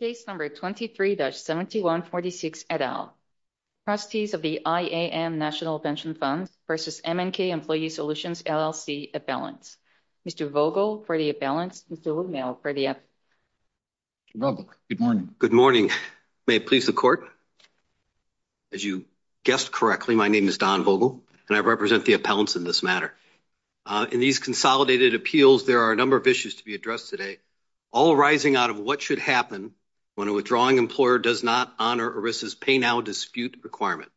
Case number 23-7146, et al. Trustees of the IAM National Pension Fund v. M & K Employee Solutions, LLC, Appellants. Mr. Vogel for the appellants. Mr. Woodmill for the appellants. Good morning. May it please the court. As you guessed correctly, my name is Don Vogel, and I represent the appellants in this matter. In these consolidated appeals, there are a number of issues to be addressed today, all arising out of what should happen when a withdrawing employer does not honor ERISA's pay-now dispute requirement.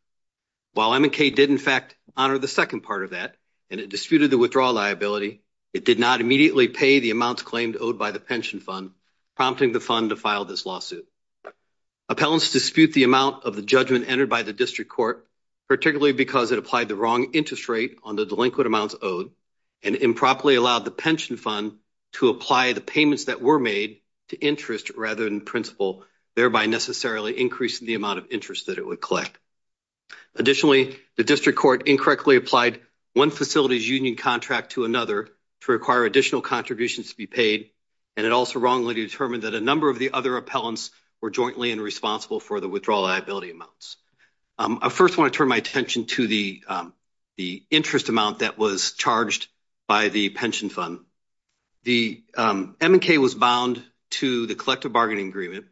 While M & K did, in fact, honor the second part of that, and it disputed the withdrawal liability, it did not immediately pay the amounts claimed owed by the pension fund, prompting the fund to file this lawsuit. Appellants dispute the amount of the judgment entered by the district court, particularly because it applied the wrong interest rate on the delinquent amounts owed and improperly allowed the pension fund to apply the payments that were made to interest rather than principal, thereby necessarily increasing the amount of interest that it would collect. Additionally, the district court incorrectly applied one facility's union contract to another to require additional contributions to be paid, and it also wrongly determined that a number of the other appellants were jointly and responsible for the withdrawal amounts. I first want to turn my attention to the interest amount that was charged by the pension fund. The M & K was bound to the collective bargaining agreement,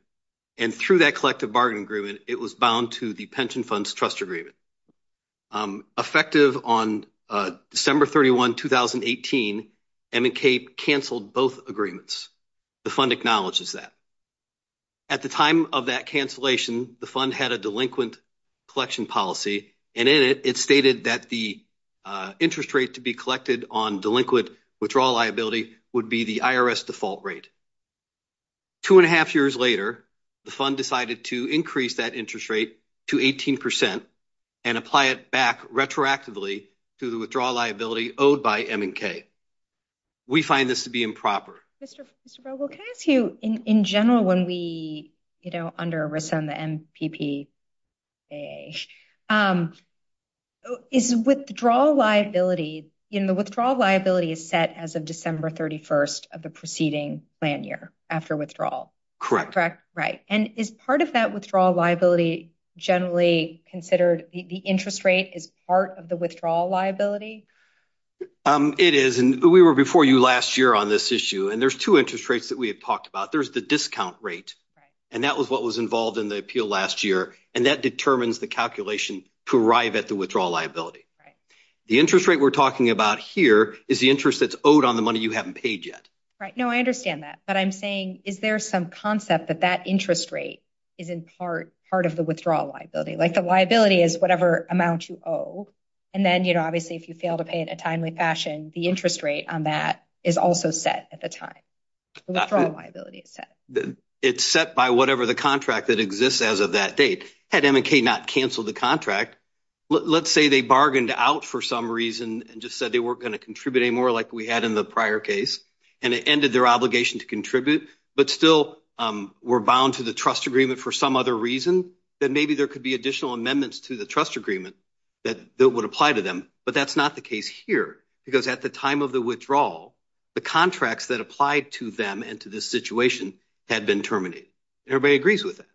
and through that collective bargaining agreement, it was bound to the pension fund's trust agreement. Effective on December 31, 2018, M & K canceled both agreements. The fund acknowledges that. At the time of that cancellation, the fund had a delinquent collection policy, and in it, it stated that the interest rate to be collected on delinquent withdrawal liability would be the IRS default rate. Two and a half years later, the fund decided to increase that interest rate to 18 percent and apply it back retroactively to the withdrawal liability owed by M & K. We find this to be MPPAA. Is withdrawal liability, you know, the withdrawal liability is set as of December 31 of the preceding plan year after withdrawal. Correct. Correct. Right. And is part of that withdrawal liability generally considered, the interest rate is part of the withdrawal liability? It is, and we were before you last year on this issue, and there's two interest rates that we and that determines the calculation to arrive at the withdrawal liability. Right. The interest rate we're talking about here is the interest that's owed on the money you haven't paid yet. Right. No, I understand that, but I'm saying is there some concept that that interest rate is in part part of the withdrawal liability? Like the liability is whatever amount you owe, and then, you know, obviously if you fail to pay in a timely fashion, the interest rate on that is also set at the time. The withdrawal liability is set. It's set by whatever the contract that exists as of that date. Had M & K not canceled the contract, let's say they bargained out for some reason and just said they weren't going to contribute anymore like we had in the prior case, and it ended their obligation to contribute, but still were bound to the trust agreement for some other reason, then maybe there could be additional amendments to the trust agreement that would apply to them. But that's not the case here, because at the time of the withdrawal, the contracts that applied to them and to this situation had been terminated. Everybody agrees with that.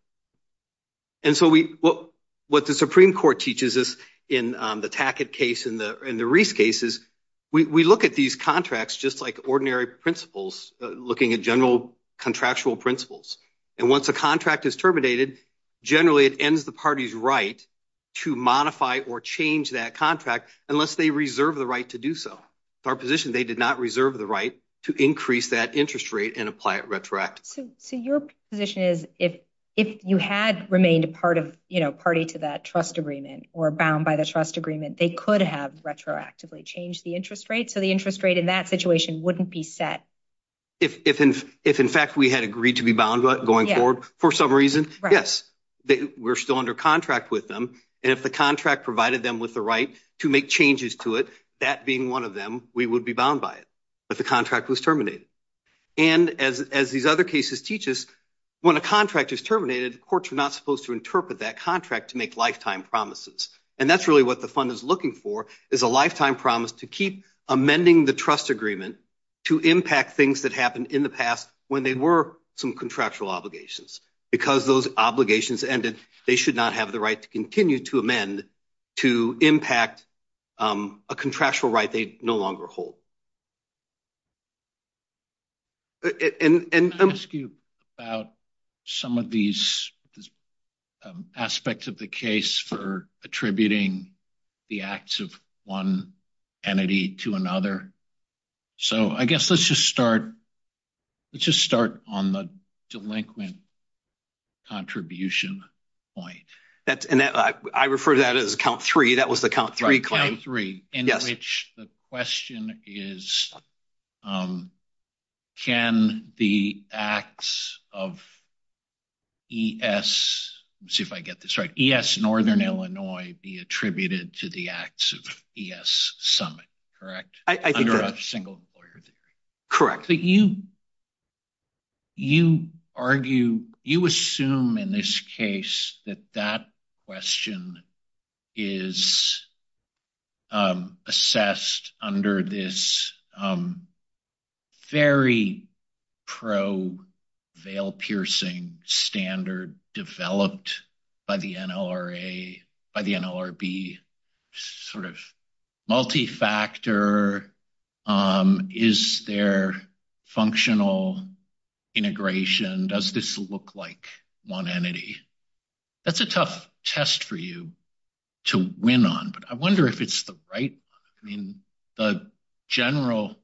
And so what the Supreme Court teaches us in the Tackett case, in the Reese case, is we look at these contracts just like ordinary principles, looking at general contractual principles. And once a contract is terminated, generally it ends the party's right to modify or change that contract unless they reserve the right to do so. With our position, they did not reserve the right to increase that interest rate and apply it retroactively. So your position is if you had remained a party to that trust agreement or bound by the trust agreement, they could have retroactively changed the interest rate, so the interest rate in that situation wouldn't be set. If in fact we had agreed to be bound going forward for some reason, yes, we're still under contract with them. And if the contract provided them with the right to make changes to it, that being one of them, we would be bound by it. But the contract was terminated. And as these other cases teach us, when a contract is terminated, courts are not supposed to interpret that contract to make lifetime promises. And that's really what the fund is looking for, is a lifetime promise to keep amending the trust agreement to impact things that happened in the past when they were some contractual obligations. Because those obligations ended, they should not have the right to continue to amend to impact a contractual right they no longer hold. And I'm asking you about some of these aspects of the case for attributing the acts of one entity to another. So I guess let's just start on the delinquent contribution point. And I refer to that as count three, that was the count three claim. Count three, in which the question is, can the acts of ES, let's see if I get this right, ES Northern Illinois be attributed to the acts of ES Summit, correct? Under a single employer theory. Correct. But you, you argue, you assume in this case that that question is assessed under this very pro-veil-piercing standard developed by the NLRA, by the NLRB, sort of multi-factor, is there functional integration? Does this look like one entity? That's a tough test for you to win on, but I wonder if it's the right one. I mean, the general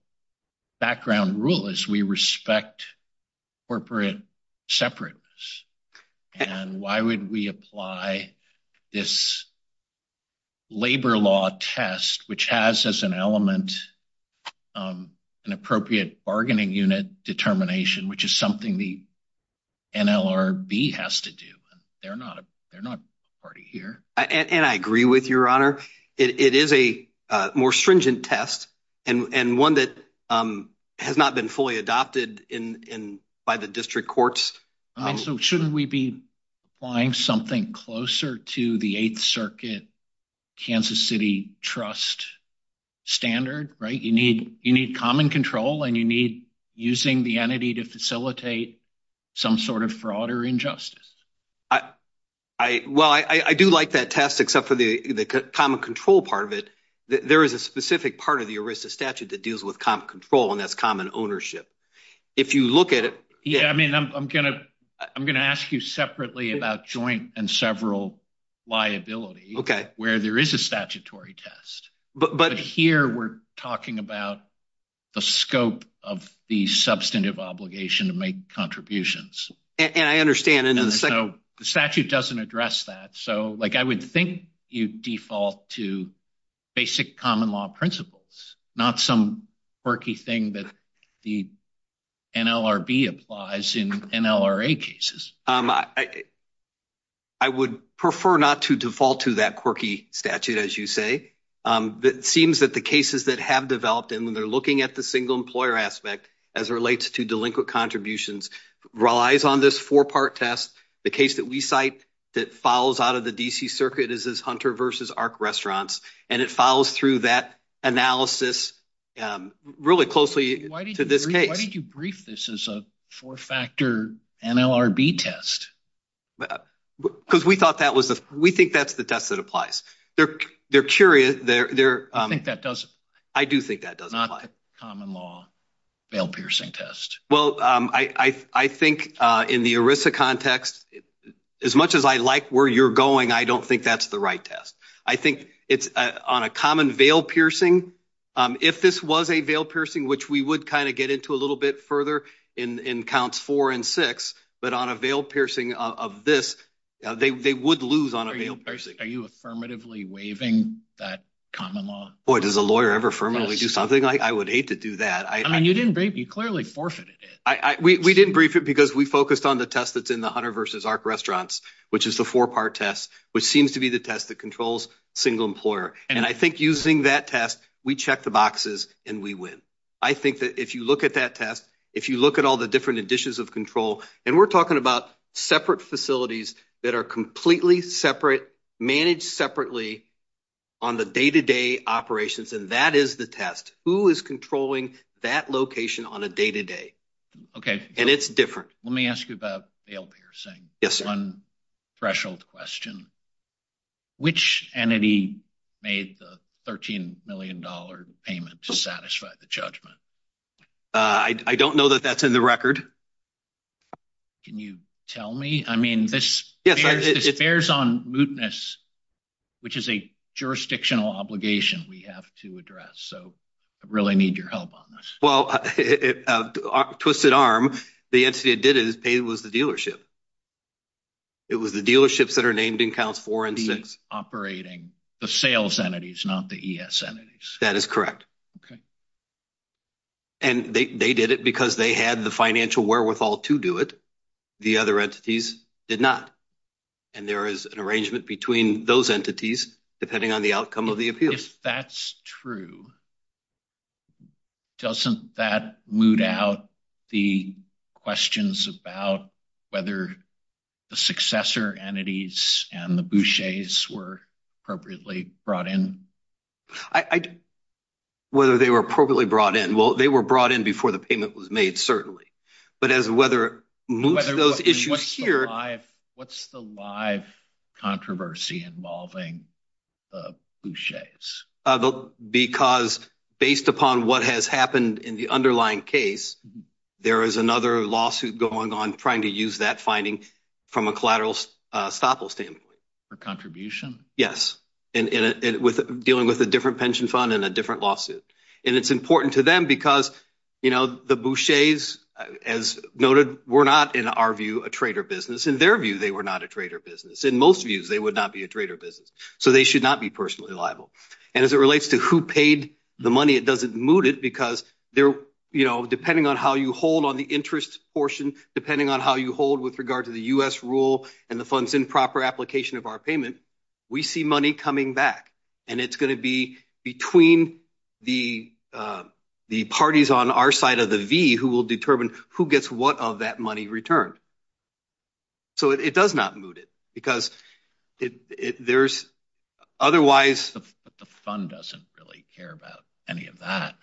background rule is we respect corporate separateness. And why would we apply this labor law test, which has as an element an appropriate bargaining unit determination, which is something the NLRB has to do. They're not, they're not party here. And I agree with your honor. It is a more stringent test and one that has not been fully adopted in, by the district courts. So shouldn't we be applying something closer to the eighth circuit Kansas City trust standard, right? You need, you need common control and you need using the entity to facilitate some sort of fraud or injustice. I, well, I do like that test, except for the common control part of it. There is a specific part of the ERISA statute that deals with common control and that's common ownership. If you look at it. Yeah. I mean, I'm going to, I'm going to ask you separately about joint and several liability where there is a statutory test, but here we're talking about the scope of the substantive obligation to make contributions. And I understand. And so the statute doesn't address that. So like, I would think you default to basic common law principles, not some quirky thing that the NLRB applies in NLRA cases. I would prefer not to default to that statute, as you say. It seems that the cases that have developed, and when they're looking at the single employer aspect, as it relates to delinquent contributions relies on this four-part test. The case that we cite that follows out of the DC circuit is this Hunter versus ARC restaurants. And it follows through that analysis really closely to this case. Why did you brief this as a four-factor NLRB test? Well, because we thought that was the, we think that's the test that applies. They're, they're curious. They're, they're, I think that doesn't, I do think that doesn't apply. Common law, veil piercing test. Well, I, I, I think in the ERISA context, as much as I like where you're going, I don't think that's the right test. I think it's on a common veil piercing. If this was a veil piercing, which we would kind of get into a little bit in, in counts four and six, but on a veil piercing of this, they would lose on a veil piercing. Are you affirmatively waiving that common law? Boy, does a lawyer ever firmly do something like, I would hate to do that. I mean, you didn't break, you clearly forfeited it. I, we, we didn't brief it because we focused on the test that's in the Hunter versus ARC restaurants, which is the four-part test, which seems to be the test that controls single employer. And I think using that test, we check the boxes and we win. I think that if you look at that test, look at all the different editions of control, and we're talking about separate facilities that are completely separate, managed separately on the day-to-day operations, and that is the test. Who is controlling that location on a day-to-day? Okay. And it's different. Let me ask you about veil piercing. Yes, sir. One threshold question, which entity made the $13 million payment to satisfy the judgment? I don't know that that's in the record. Can you tell me? I mean, this bears on mootness, which is a jurisdictional obligation we have to address. So I really need your help on this. Well, Twisted Arm, the entity that did it was the dealership. It was the dealerships that are named in counts four and six. Operating the sales entities, not the ES entities. That is correct. Okay. And they did it because they had the financial wherewithal to do it. The other entities did not. And there is an arrangement between those entities, depending on the outcome of the appeals. If that's true, doesn't that moot out the questions about whether the successor entities and the bouchers were appropriately brought in? I don't know whether they were appropriately brought in. Well, they were brought in before the payment was made, certainly. But as weather moves those issues here. What's the live controversy involving the bouchers? Because based upon what has happened in the underlying case, there is another lawsuit going on trying to use that finding from a collateral stop-loss standpoint. For contribution? Yes, and dealing with a different pension fund and a different lawsuit. And it's important to them because the bouchers, as noted, were not, in our view, a trader business. In their view, they were not a trader business. In most views, they would not be a trader business. So they should not be personally liable. And as it relates to who paid the money, it doesn't moot it because depending on how you hold on the interest portion, depending on how you hold with regard to the U.S. rule and the fund's improper application of our payment, we see money coming back. And it's going to be between the parties on our side of the V who will determine who gets what of that money returned. So it does not moot it because there's otherwise... But the fund doesn't really care about any of that.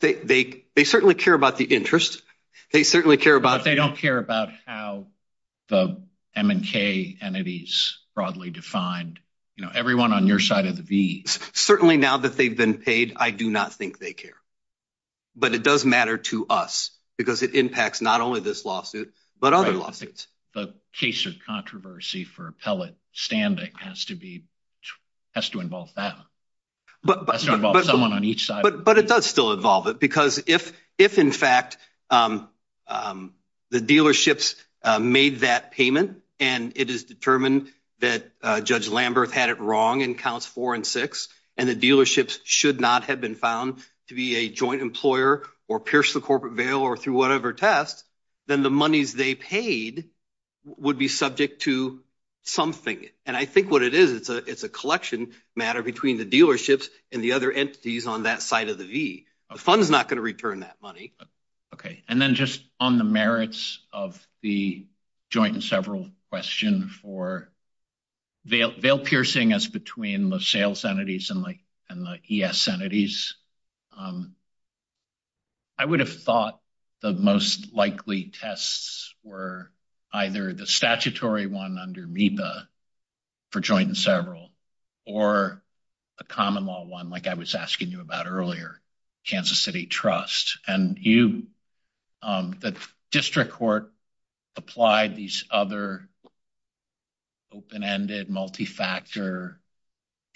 They certainly care about the interest. They certainly care about... But they don't care about how the M&K entities broadly defined, you know, everyone on your side of the V. Certainly now that they've been paid, I do not think they care. But it does matter to us because it impacts not only this lawsuit, but other lawsuits. The case of controversy for appellate standing has to involve that. Has to involve someone on each side. But it does still involve it because if in fact the dealerships made that payment and it is determined that Judge Lamberth had it wrong in counts four and six, and the dealerships should not have been found to be a joint employer or pierce the corporate veil or through whatever test, then the monies they paid would be subject to something. And I think what it is, it's a collection matter between the dealerships and the other entities on that side of the V. The fund is not going to return that money. Okay. And then just on the merits of the joint and several question for veil piercing as between the sales entities and the ES entities. I would have thought the most likely tests were either the statutory one under MEPA for joint and several or a common law one like I was asking you about earlier, Kansas City Trust. And the district court applied these other open-ended, multi-factor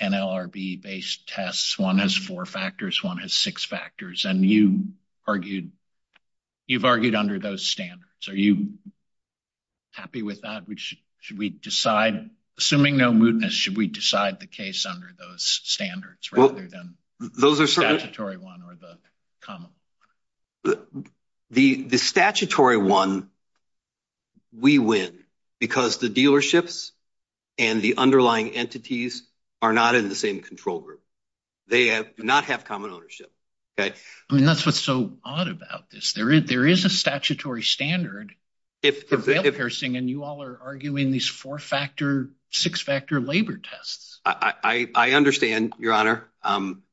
NLRB-based tests. One has four factors, one has six factors. And you've argued under those standards. Are you happy with that? Should we decide, assuming no mootness, should we decide the case under those standards rather than the statutory one or the common? The statutory one, we win because the dealerships and the underlying entities are not in the same control group. They do not have common ownership. Okay. I mean, that's what's so odd about this. There is a statutory standard. If the veil piercing and you all are arguing these four-factor, six-factor labor tests. I understand, Your Honor,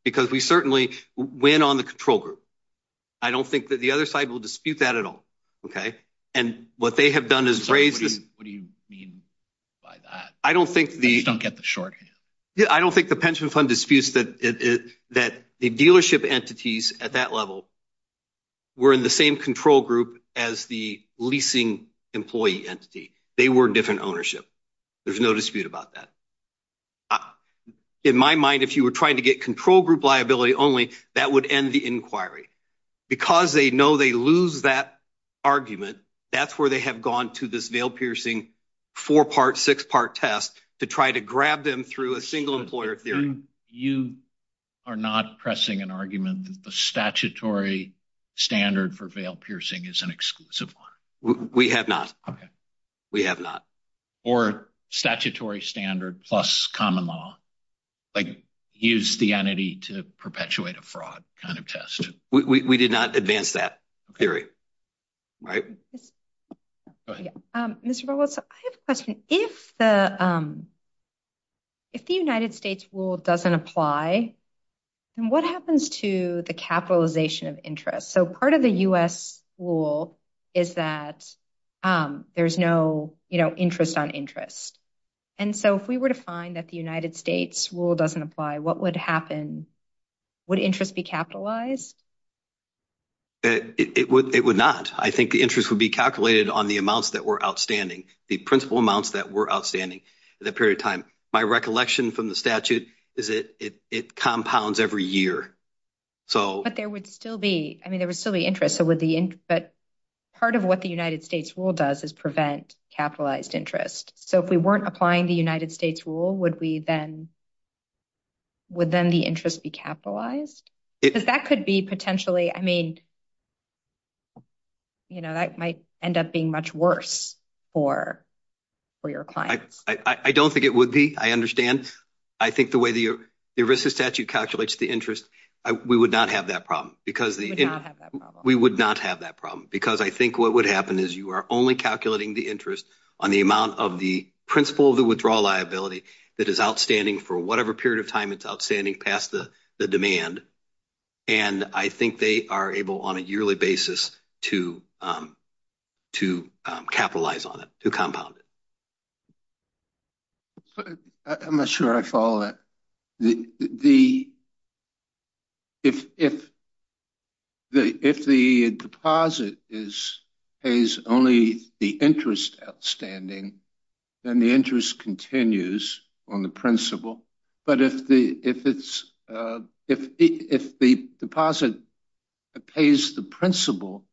because we certainly win on the control group. I don't think that the other side will dispute that at all. And what they have done is raised this. What do you mean by that? I don't think the... Please don't get the shorthand. I don't think the pension fund disputes that the dealership entities at that level were in the same control group as the leasing employee entity. They were different ownership. There's no dispute about that. In my mind, if you were trying to get control group liability only, that would end the inquiry. Because they know they lose that argument, that's where they have gone to this veil piercing four-part, six-part test to try to grab them through a single employer theory. You are not pressing an argument that the statutory standard for veil piercing is an exclusive one. We have not. We have not. Or statutory standard plus common law, like use the entity to perpetuate a fraud kind of test. We did not advance that theory, right? Mr. Bollos, I have a question. If the United States rule doesn't apply, then what happens to the capitalization of interest? So part of the US rule is that there's no interest on interest. And so if we were to find that the United States rule doesn't apply, what would happen? Would interest be capitalized? It would not. I think the interest would be calculated on the amounts that were outstanding. The principal amounts that were outstanding at that period of time. My recollection from the statute is that it compounds every year. But there would still be, I mean, there would still be interest. But part of what the United States rule does is prevent capitalized interest. So if we weren't applying the United States rule, would then the interest be capitalized? Because that could be potentially, I mean, you know, that might end up being much worse for your clients. I don't think it would be. I understand. I think the way the ERISA statute calculates the interest, we would not have that problem. We would not have that problem. We would not have that problem. Because I think what would happen is you are only calculating the interest on the amount of the principal of the withdrawal liability that is outstanding for whatever period of time it's outstanding past the demand. And I think they are able on a yearly basis to capitalize on it, to compound it. I'm not sure I follow that. If the deposit is only the interest outstanding, then the interest continues on the principal. But if the deposit pays the principal,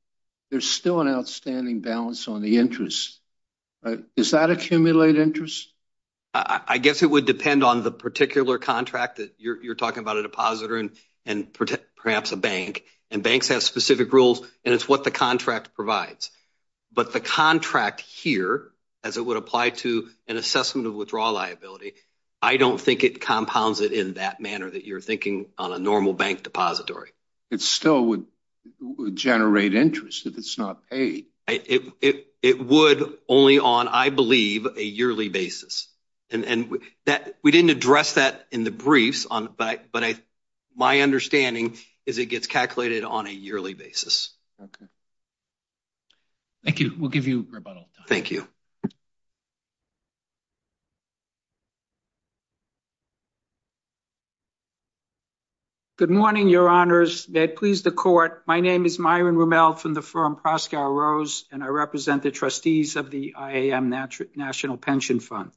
there's still an outstanding balance on the interest. Does that accumulate interest? I guess it would depend on the particular contract that you're talking about, a depositor and perhaps a bank. And banks have specific rules, and it's what the contract provides. But the contract here, as it would apply to an assessment of withdrawal liability, I don't think it compounds it in that manner that you're thinking on a normal bank depository. It still would generate interest if it's not paid. It would only on, I believe, a yearly basis. We didn't address that in the briefs, but my understanding is it gets calculated on a yearly basis. Thank you. We'll give you rebuttal. Thank you. Good morning, your honors. May it please the court. My name is Myron Rommel from the firm Proscow Rose, and I represent the trustees of the IAM National Pension Fund.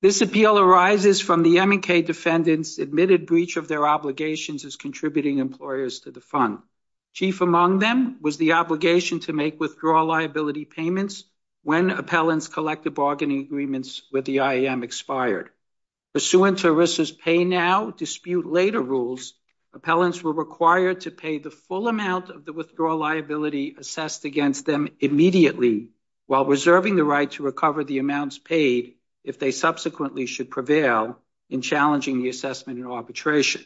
This appeal arises from the M&K defendants admitted breach of their obligations as contributing employers to the fund. Chief among them was the obligation to make withdrawal liability payments when appellants collected bargaining agreements with the IAM expired. Pursuant to ERISA's pay now, dispute later rules, appellants were required to pay the full amount of the withdrawal liability assessed against them immediately while reserving the right to recover the amounts paid if they subsequently should prevail in challenging the assessment and arbitration.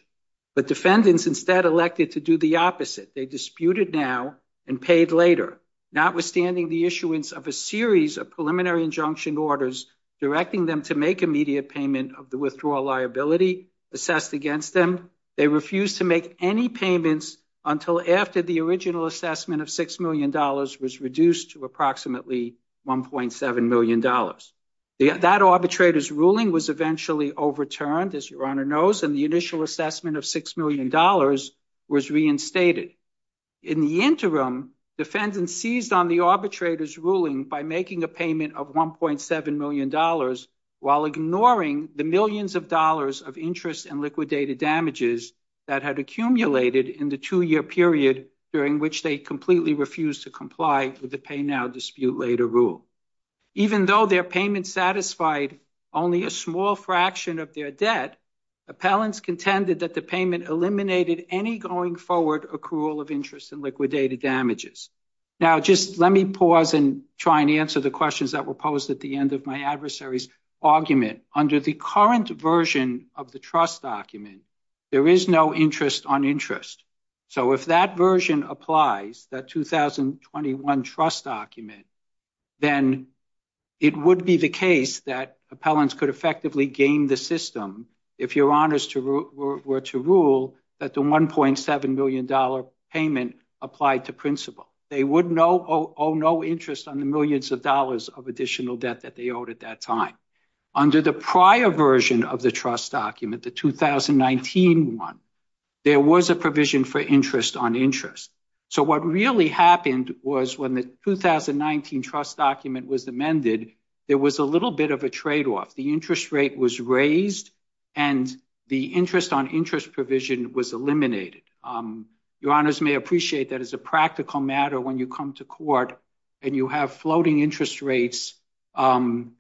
But defendants instead elected to do the opposite. They disputed now and paid later, notwithstanding the issuance of a series of preliminary injunction orders directing them to make immediate payment of the withdrawal liability assessed against them. They refused to make any payments until after the original assessment of $6 million was reduced to approximately $1.7 million. That arbitrator's ruling was eventually overturned, as your honor knows, and the initial assessment of $6 million was reinstated. In the interim, defendants seized on the arbitrator's ruling by making a payment of $1.7 million while ignoring the millions of dollars of interest and liquidated damages that had accumulated in the two-year period during which they completely refused to comply with the pay now, dispute later rule. Even though their payment satisfied only a small fraction of their debt, appellants contended that the payment eliminated any going forward accrual of interest and liquidated damages. Now, just let me pause and try and answer the questions that were posed at the end of my adversary's argument. Under the current version of the trust document, there is no interest on interest. So if that version applies, that 2021 trust document, then it would be the case that appellants could effectively game the system if your honors were to rule that the $1.7 million payment applied to principle. They would owe no interest on the millions of dollars of additional debt that they owed at that time. Under the prior version of the trust document, the 2019 one, there was a provision for interest on interest. So what really happened was when the 2019 trust document was amended, there was a little bit of a trade-off. The interest rate was raised and the interest on interest provision was eliminated. Your honors may appreciate that as a practical matter, when you come to court and you have floating interest rates and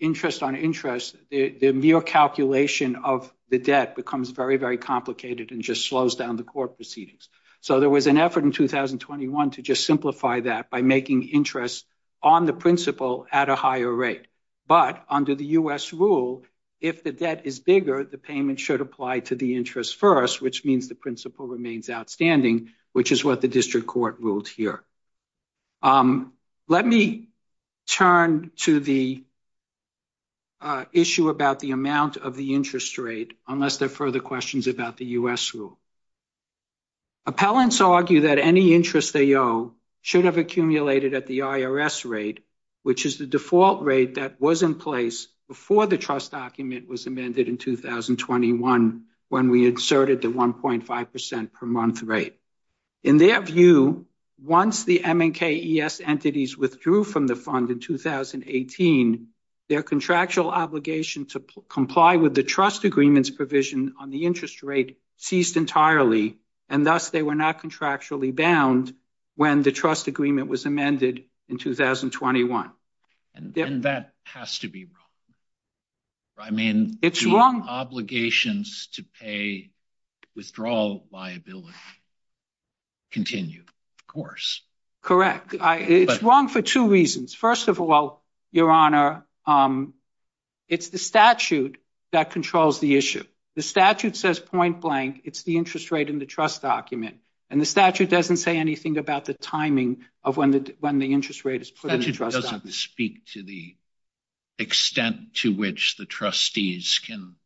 interest on interest, the mere calculation of the debt becomes very, very complicated and just slows down the court proceedings. So there was an effort in 2021 to just simplify that by making interest on the principle at a higher rate. But under the US rule, if the debt is bigger, the payment should apply to the interest first, which means the principle remains outstanding, which is what the district court ruled here. Let me turn to the issue about the amount of the interest rate, unless there are further questions about the US rule. Appellants argue that any interest they owe should have accumulated at the IRS rate, which is the default rate that was in place before the trust document was amended in 2021 when we inserted the 1.5% per month rate. In their view, once the MNK-ES entities withdrew from the fund in 2018, their contractual obligation to comply with the trust agreement's provision on the interest rate ceased entirely, and thus they were not contractually bound when the trust agreement was amended in 2021. And that has to be wrong. I mean... It's wrong. Obligations to pay withdrawal liability continue, of course. Correct. It's wrong for two reasons. First of all, Your Honor, it's the statute that controls the issue. The statute says point blank, it's the interest rate in the trust document. And the statute doesn't say anything about the timing of when the interest rate is put in the trust document. It doesn't speak to the extent to which the trustees can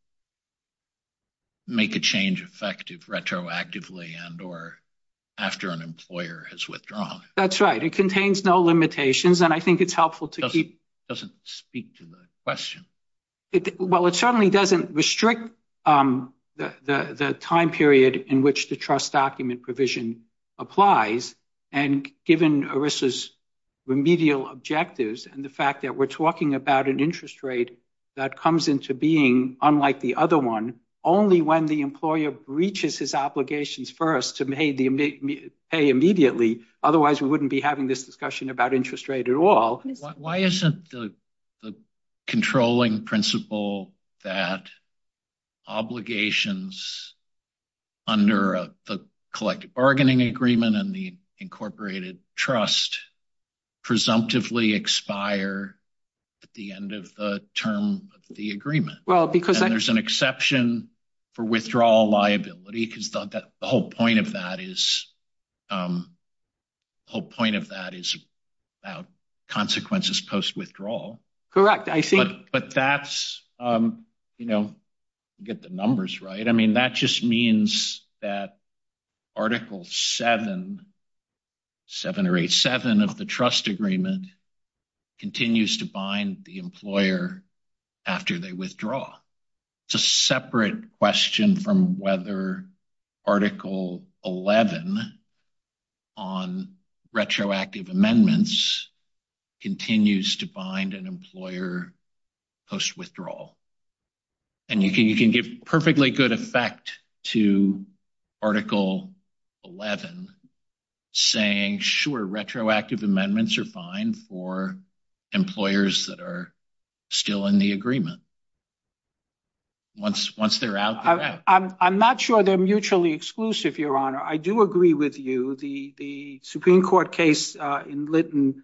make a change effective retroactively and or after an employer has withdrawn. That's right. It contains no limitations. And I think it's helpful to keep... It doesn't speak to the question. Well, it certainly doesn't restrict the time period in which the trust document provision applies. And given ERISA's remedial objectives and the fact that we're talking about an interest rate that comes into being unlike the other one, only when the employer breaches his obligations first to pay immediately. Otherwise, we wouldn't be having this discussion about interest rate at all. Why isn't the controlling principle that obligations under the collective bargaining agreement and the incorporated trust presumptively expire at the end of the term of the agreement? Well, because... And there's an exception for withdrawal liability because the whole point of that is about consequences post-withdrawal. Correct. I see. But that's... Get the numbers right. I mean, that just means that Article 7, 7 or 8, 7 of the trust agreement continues to bind the employer after they withdraw. It's a separate question from whether Article 11 on retroactive amendments continues to bind an employer post-withdrawal. And you can give perfectly good effect to Article 11 saying, sure, retroactive amendments are fine for employers that are still in the agreement. Once they're out, they're out. I'm not sure they're mutually exclusive, Your Honor. I do agree with you. The Supreme Court case in Lytton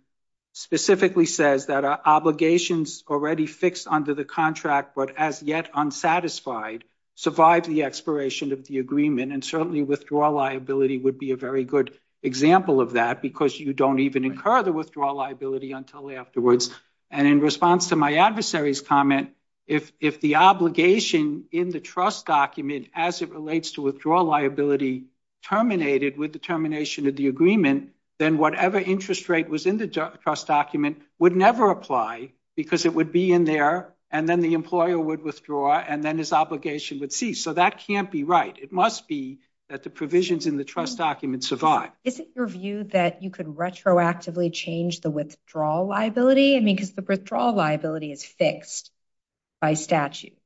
specifically says that obligations already fixed under the contract but as yet unsatisfied survive the expiration of the agreement. And certainly, withdrawal liability would be a very good example of that because you don't even incur the withdrawal liability until afterwards. And in response to my adversary's comment, if the obligation in the trust document as it relates to withdrawal liability terminated with the termination of the agreement, then whatever interest rate was in the trust document would never apply because it would be in there and then the employer would withdraw and then his obligation would cease. So that can't be right. It must be that the provisions in the trust document survive. Isn't your view that you could retroactively change the withdrawal liability? I mean, because the withdrawal liability is fixed by statute.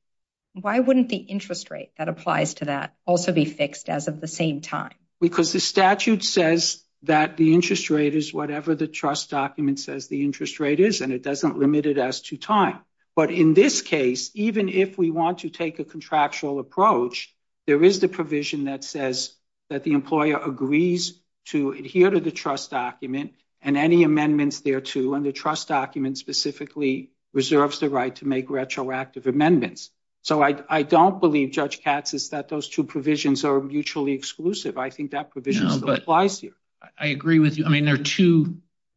Why wouldn't the interest rate that applies to that also be fixed as of the same time? Because the statute says that the interest rate is whatever the trust document says the interest rate is and it doesn't limit it as to time. But in this case, even if we want to take a contractual approach, there is the provision that says that the employer agrees to adhere to the trust document and any amendments thereto and the trust document specifically reserves the right to make retroactive amendments. So I don't believe, Judge Katz, is that those two provisions are mutually exclusive. I think that provision still applies here. I agree with you. I mean, the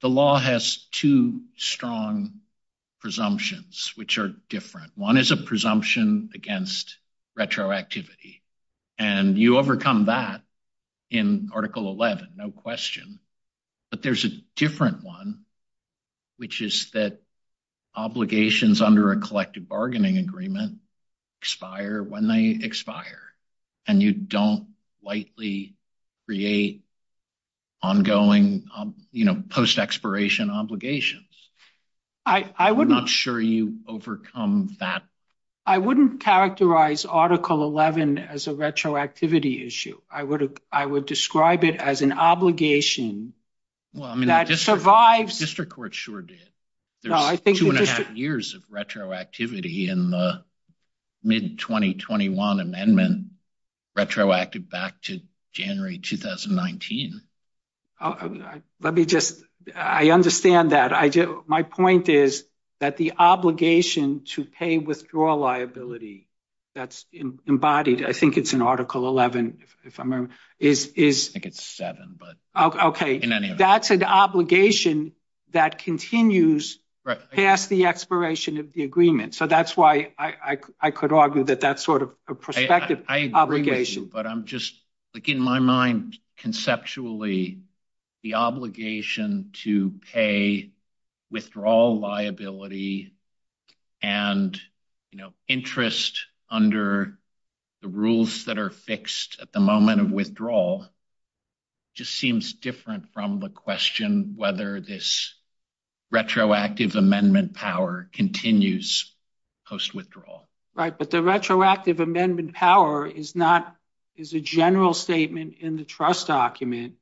law has two strong presumptions, which are different. One is a presumption against retroactivity. And you overcome that in Article 11, no question. But there's a different one, which is that obligations under a collective bargaining agreement expire when they expire. And you don't lightly create ongoing post-expiration obligations. I'm not sure you overcome that. I wouldn't characterize Article 11 as a retroactivity issue. I would describe it as an obligation that survives. The district court sure did. There's two and a half years of retroactivity in the mid-2021 amendment, retroactive back to January 2019. Let me just, I understand that. My point is that the obligation to pay withdrawal liability that's embodied, I think it's in Article 11, if I remember, is... I think it's 7, but... Okay, that's an obligation that continues past the expiration of the agreement. So that's why I could argue that that's sort of a prospective obligation. But I'm just, like, in my mind, conceptually, the obligation to pay withdrawal liability and interest under the rules that are fixed at the moment of withdrawal just seems different from the question whether this retroactive amendment power continues post-withdrawal. Right. But the retroactive amendment power is a general statement in the trust document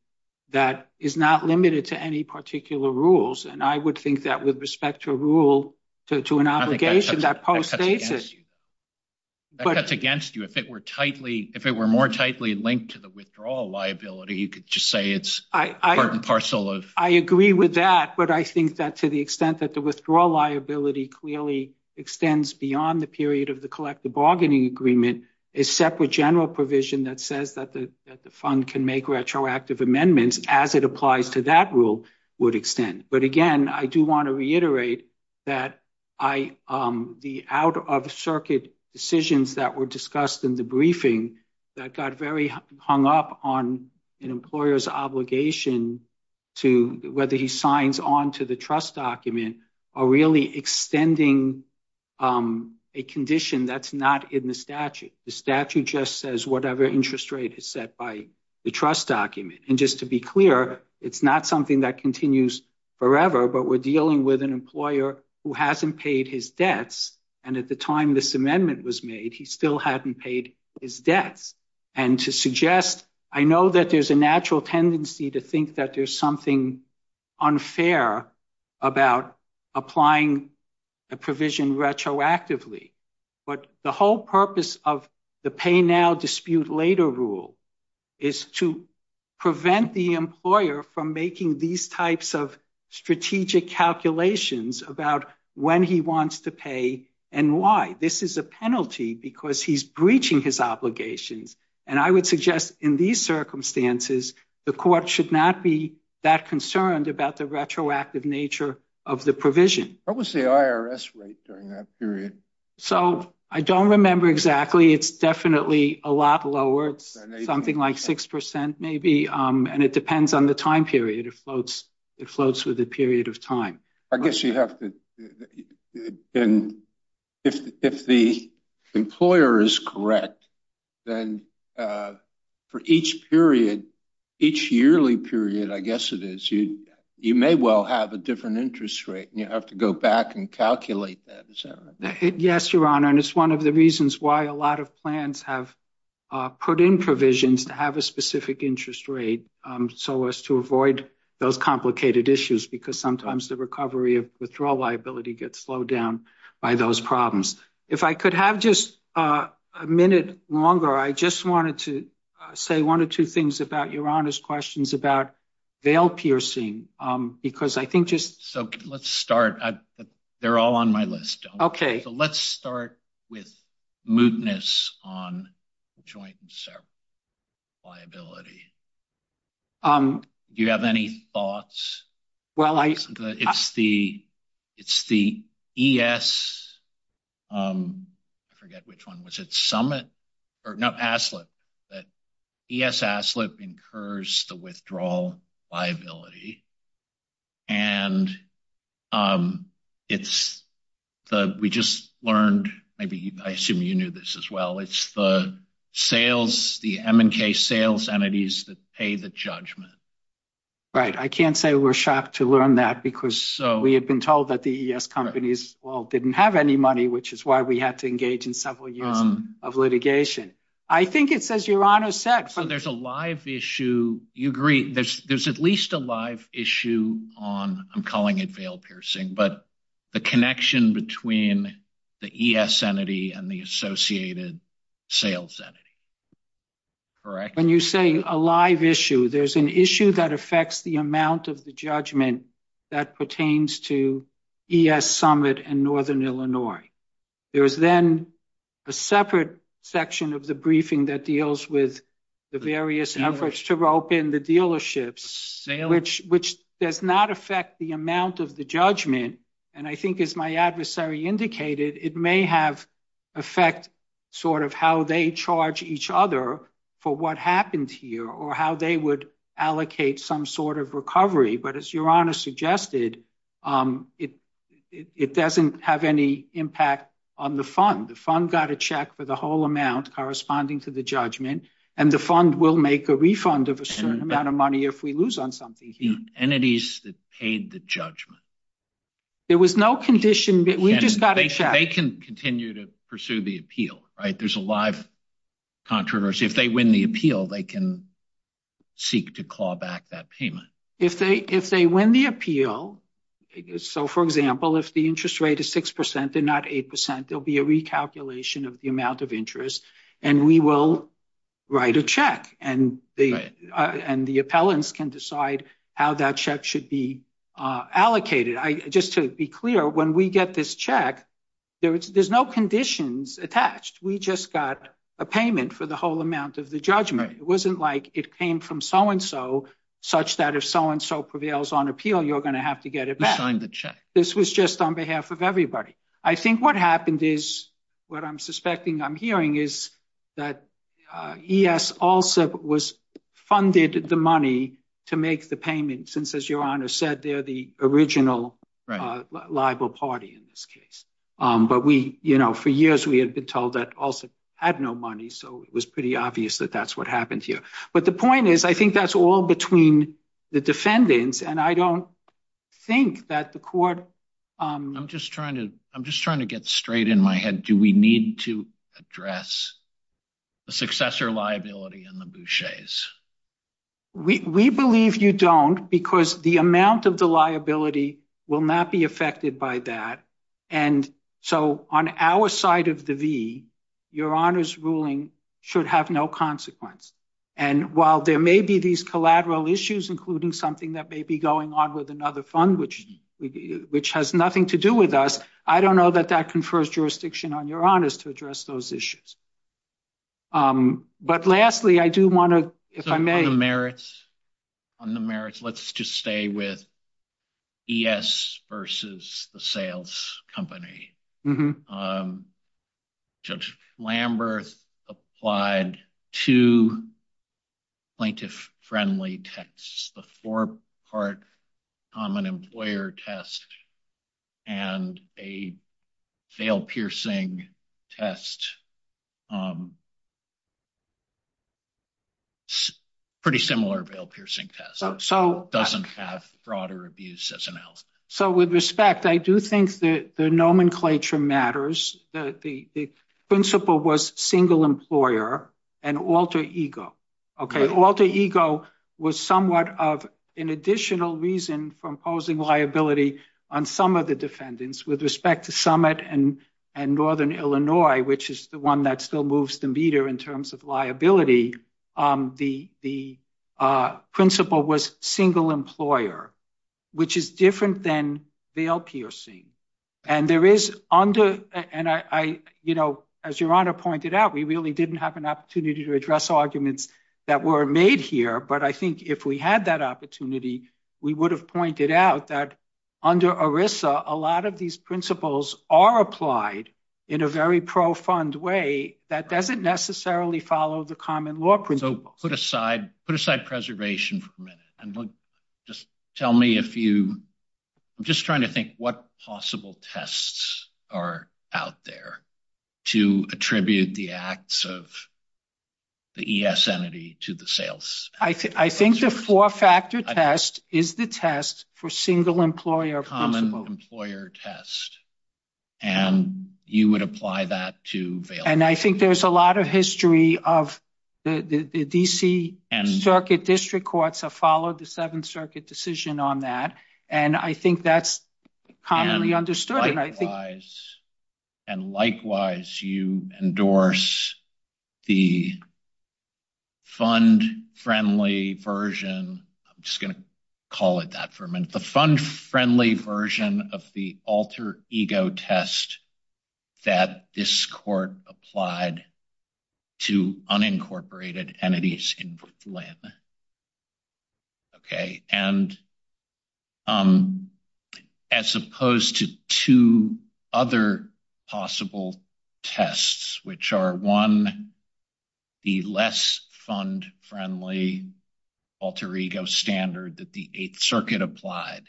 that is not limited to any particular rules. And I would think that with respect to a rule, to an obligation, that post-states it. That cuts against you. If it were more tightly linked to the withdrawal liability, you could just say it's part and parcel of... I agree with that. But I think that to the extent that the withdrawal liability clearly extends beyond the period of the collective bargaining agreement, a separate general provision that says that the fund can make retroactive amendments as it applies to that rule would extend. But again, I do want to reiterate that the out-of-circuit decisions that were discussed in the briefing that got very hung up on an employer's obligation to whether he signs on to the trust document are really extending a condition that's not in the statute. The statute just says whatever interest rate is set by the trust document. And just to be clear, it's not something that continues forever, but we're dealing with an employer who hasn't paid his debts. And at the time this amendment was made, he still hadn't paid his debts. And to suggest, I know that there's a natural tendency to think that there's something unfair about applying a provision retroactively. But the whole purpose of the pay now, dispute later rule is to prevent the employer from making these types of strategic calculations about when he wants to pay and why. This is a penalty because he's breaching his obligations. And I would suggest in these circumstances, the court should not be that concerned about the retroactive nature of the provision. What was the IRS rate during that period? So I don't remember exactly. It's definitely a lot lower. Something like 6% maybe. And it depends on the time period. It floats with the period of time. I guess you have to, if the employer is correct, then for each period, each yearly period, I guess it is, you may well have a different interest rate. You have to go back and calculate that. Yes, Your Honor. And it's one of the reasons why a lot of plans have put in provisions to have a specific interest rate so as to avoid those complicated issues, because sometimes the recovery of withdrawal liability gets slowed down by those problems. If I could have just a minute longer, I just wanted to say one or two things about Your Honor's questions about bail piercing, because I think just... So let's start. They're all on my list. Okay. So let's start with mootness on joint and separate liability. Do you have any thoughts? Well, I... It's the ES... I forget which one. Was it Summit? Or no, ASLIP. That ES-ASLIP incurs the withdrawal liability. And it's the... We just learned... Maybe I assume you knew this as well. It's the sales, the M&K sales entities that pay the judgment. Right. I can't say we're shocked to learn that, because we had been told that the ES companies, well, didn't have any money, which is why we had to engage in several years of litigation. I think it's, as Your Honor said... So there's a live issue. You agree there's at least a live issue on, I'm calling it bail piercing, but the connection between the ES entity and the associated sales entity. Correct? When you say a live issue, there's an issue that affects the amount of the judgment that pertains to ES Summit and Northern Illinois. There is then a separate section of the briefing that deals with the various efforts to rope in the dealerships, which does not affect the amount of the judgment. And I think as my adversary indicated, it may have effect sort of how they charge each other for what happened here or how they would allocate some sort of recovery. But as Your Honor suggested, it doesn't have any impact on the fund. The fund got a check for the whole amount corresponding to the judgment and the fund will make a refund of a certain amount of money if we lose on something here. The entities that paid the judgment. There was no condition, we just got a check. They can continue to pursue the appeal, right? There's a live controversy. If they win the appeal, they can seek to claw back that payment. If they win the appeal, so for example, if the interest rate is 6%, they're not 8%, there'll be a recalculation of the amount of interest. And we will write a check and the appellants can decide how that check should be allocated. Just to be clear, when we get this check, there's no conditions attached. We just got a payment for the whole amount of the judgment. It wasn't like it came from so-and-so such that if so-and-so prevails on appeal, you're gonna have to get it back. You signed the check. This was just on behalf of everybody. I think what happened is, what I'm suspecting I'm hearing is that ES also was funded the money to make the payment, since as your honor said, they're the original liable party in this case. But for years, we had been told that also had no money. So it was pretty obvious that that's what happened here. But the point is, I think that's all between the defendants. And I don't think that the court- I'm just trying to get straight in my head. Do we need to address the successor liability in the Boucher's? We believe you don't because the amount of the liability will not be affected by that. And so on our side of the V, your honor's ruling should have no consequence. And while there may be these collateral issues, including something that may be going on with another fund, which has nothing to do with us, I don't know that that confers jurisdiction on your honors to address those issues. But lastly, I do want to, if I may- On the merits, let's just stay with ES versus the sales company. Judge Lamberth applied two plaintiff-friendly texts, the four-part common employer test and a veil-piercing test. Pretty similar veil-piercing test. So it doesn't have broader abuse as an element. So with respect, I do think that the nomenclature matters. The principle was single employer and alter ego, okay? Alter ego was somewhat of an additional reason for imposing liability on some of the defendants. With respect to Summit and Northern Illinois, which is the one that still moves the meter in terms of liability, the principle was single employer, which is different than veil-piercing. And there is under, as your honor pointed out, we really didn't have an opportunity to address arguments that were made here. But I think if we had that opportunity, we would have pointed out that under ERISA, a lot of these principles are applied in a very profound way that doesn't necessarily follow the common law principles. So put aside preservation for a minute. And just tell me if you, I'm just trying to think what possible tests are out there to attribute the acts of the ES entity to the sales. I think the four-factor test is the test for single employer. Common employer test. And you would apply that to veil-piercing. And I think there's a lot of history of the DC Circuit District Courts have followed the Seventh Circuit decision on that. And I think that's commonly understood. And likewise, you endorse the fund-friendly version. I'm just going to call it that for a minute. The fund-friendly version of the alter ego test that this court applied to unincorporated entities in Woodland. Okay. And as opposed to two other possible tests, which are one, the less fund-friendly alter ego standard that the Eighth Circuit applied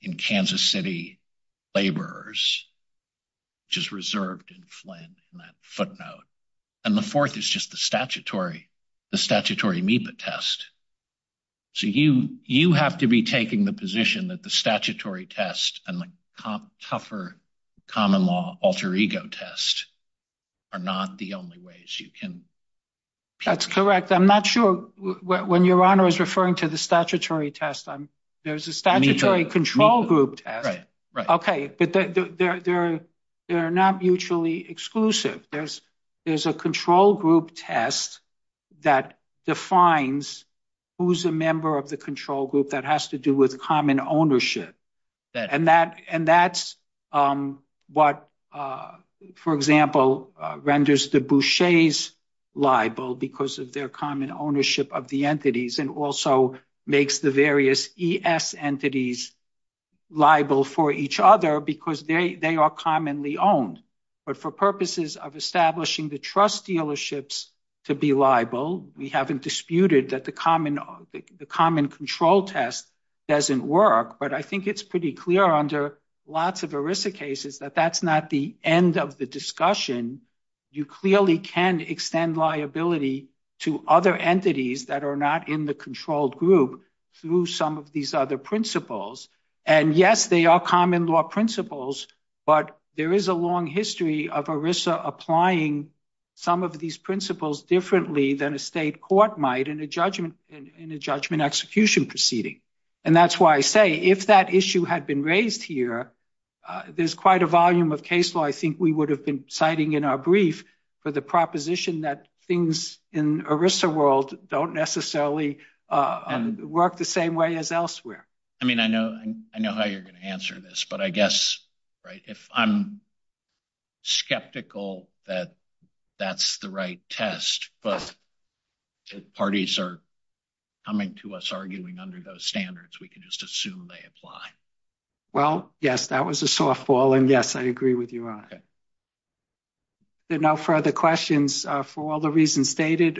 in Kansas City laborers, which is reserved in Flynn in that footnote. And the fourth is just the statutory MEPA test. So you have to be taking the position that the statutory test and the tougher common law alter ego test are not the only ways you can. That's correct. I'm not sure when your honor is referring to the statutory test. There's a statutory control group test. But they're not mutually exclusive. There's a control group test that defines who's a member of the control group that has to do with common ownership. And that's what, for example, renders the Bouchers liable because of their common ownership of the entities and also makes the various ES entities liable for each other because they are commonly owned. But for purposes of establishing the trust dealerships to be liable, we haven't disputed that the common control test doesn't work. But I think it's pretty clear under lots of ERISA cases that that's not the end of the discussion. You clearly can extend liability to other entities that are not in the controlled group through some of these other principles. And yes, they are common law principles, but there is a long history of ERISA applying some of these principles differently than a state court might in a judgment execution proceeding. And that's why I say, if that issue had been raised here, there's quite a volume of case law I think we would have been citing in our brief for the proposition that things in ERISA world don't necessarily work the same way as elsewhere. I mean, I know how you're going to answer this, but I guess, right, if I'm skeptical that that's the right test, but parties are coming to us arguing under those standards, we can just assume they apply. Well, yes, that was a softball. And yes, I agree with you on it. There are no further questions. For all the reasons stated,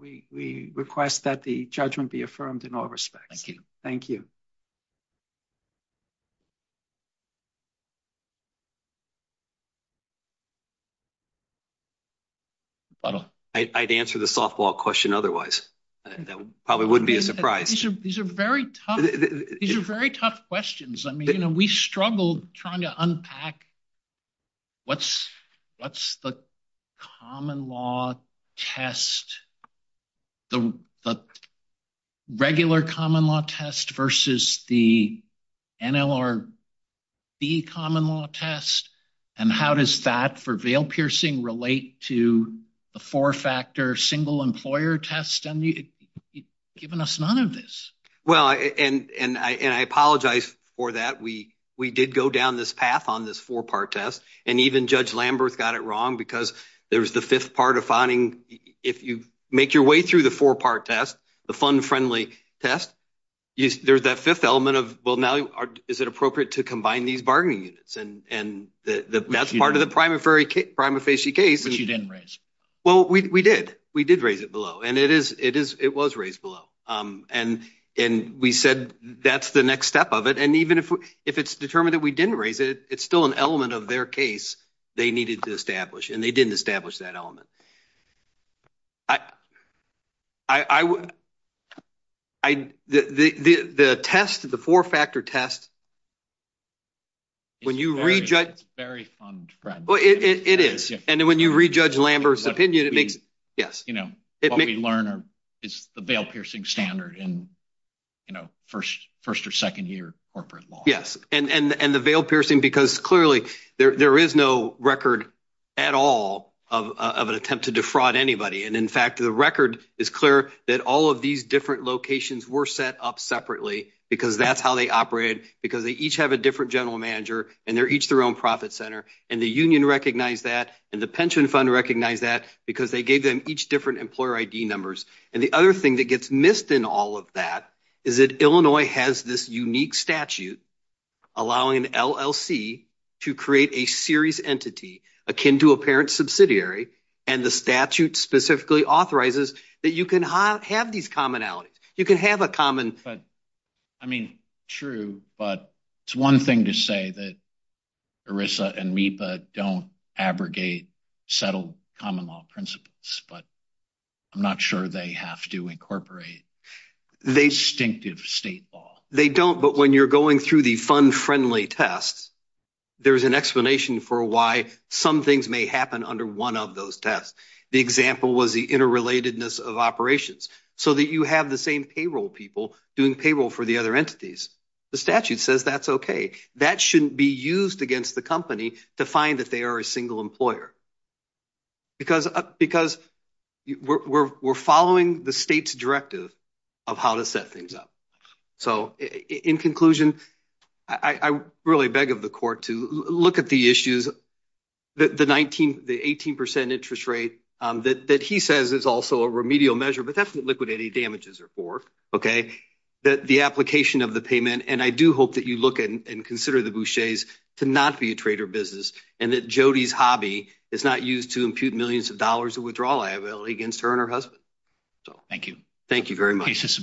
we request that the judgment be affirmed in all respects. Thank you. I'd answer the softball question otherwise. That probably wouldn't be a surprise. These are very tough questions. I mean, we struggled trying to unpack what's the common law test, the regular common law test versus the NLRB common law test. And how does that for veil piercing relate to the four-factor single employer test? You've given us none of this. Well, and I apologize for that. We did go down this path on this four-part test. And even Judge Lambert's got it wrong because there was the fifth part of finding if you make your way through the four-part test, the fund-friendly test, there's that fifth element of, well, now is it appropriate to combine these bargaining units? And that's part of the prima facie case. Which you didn't raise. Well, we did. We did raise it below. And it was raised below. And we said, that's the next step of it. And even if it's determined that we didn't raise it, it's still an element of their case they needed to establish. And they didn't establish that element. The test, the four-factor test, when you re-judge- It's very fund-friendly. Well, it is. And then when you re-judge Lambert's opinion, what we learn is the veil-piercing standard in first or second year corporate law. Yes. And the veil-piercing, because clearly there is no record at all of an attempt to defraud anybody. And in fact, the record is clear that all of these different locations were set up separately because that's how they operated because they each have a different general manager and they're each their own profit center. And the union recognized that and the pension fund recognized that because they gave them each different employer ID numbers. And the other thing that gets missed in all of that is that Illinois has this unique statute allowing an LLC to create a series entity akin to a parent subsidiary and the statute specifically authorizes that you can have these commonalities. You can have a common- But I mean, true, but it's one thing to say that ERISA and MEPA don't abrogate settled common law principles, but I'm not sure they have to incorporate distinctive state law. They don't, but when you're going through the fund-friendly tests, there's an explanation for why some things may happen under one of those tests. The example was the interrelatedness of operations so that you have the same payroll people doing payroll for the other entities. The statute says that's okay. That shouldn't be used against the company to find that they are a single employer because we're following the state's directive of how to set things up. So in conclusion, I really beg of the court to look at the issues, the 18% interest rate that he says is also a remedial measure, but that's what liquidating damages are for, okay? That the application of the payment, and I do hope that you look at and consider the Boucher's to not be a trader business, and that Jody's hobby is not used to impute millions of dollars of withdrawal liability against her and her husband. Thank you. Thank you very much.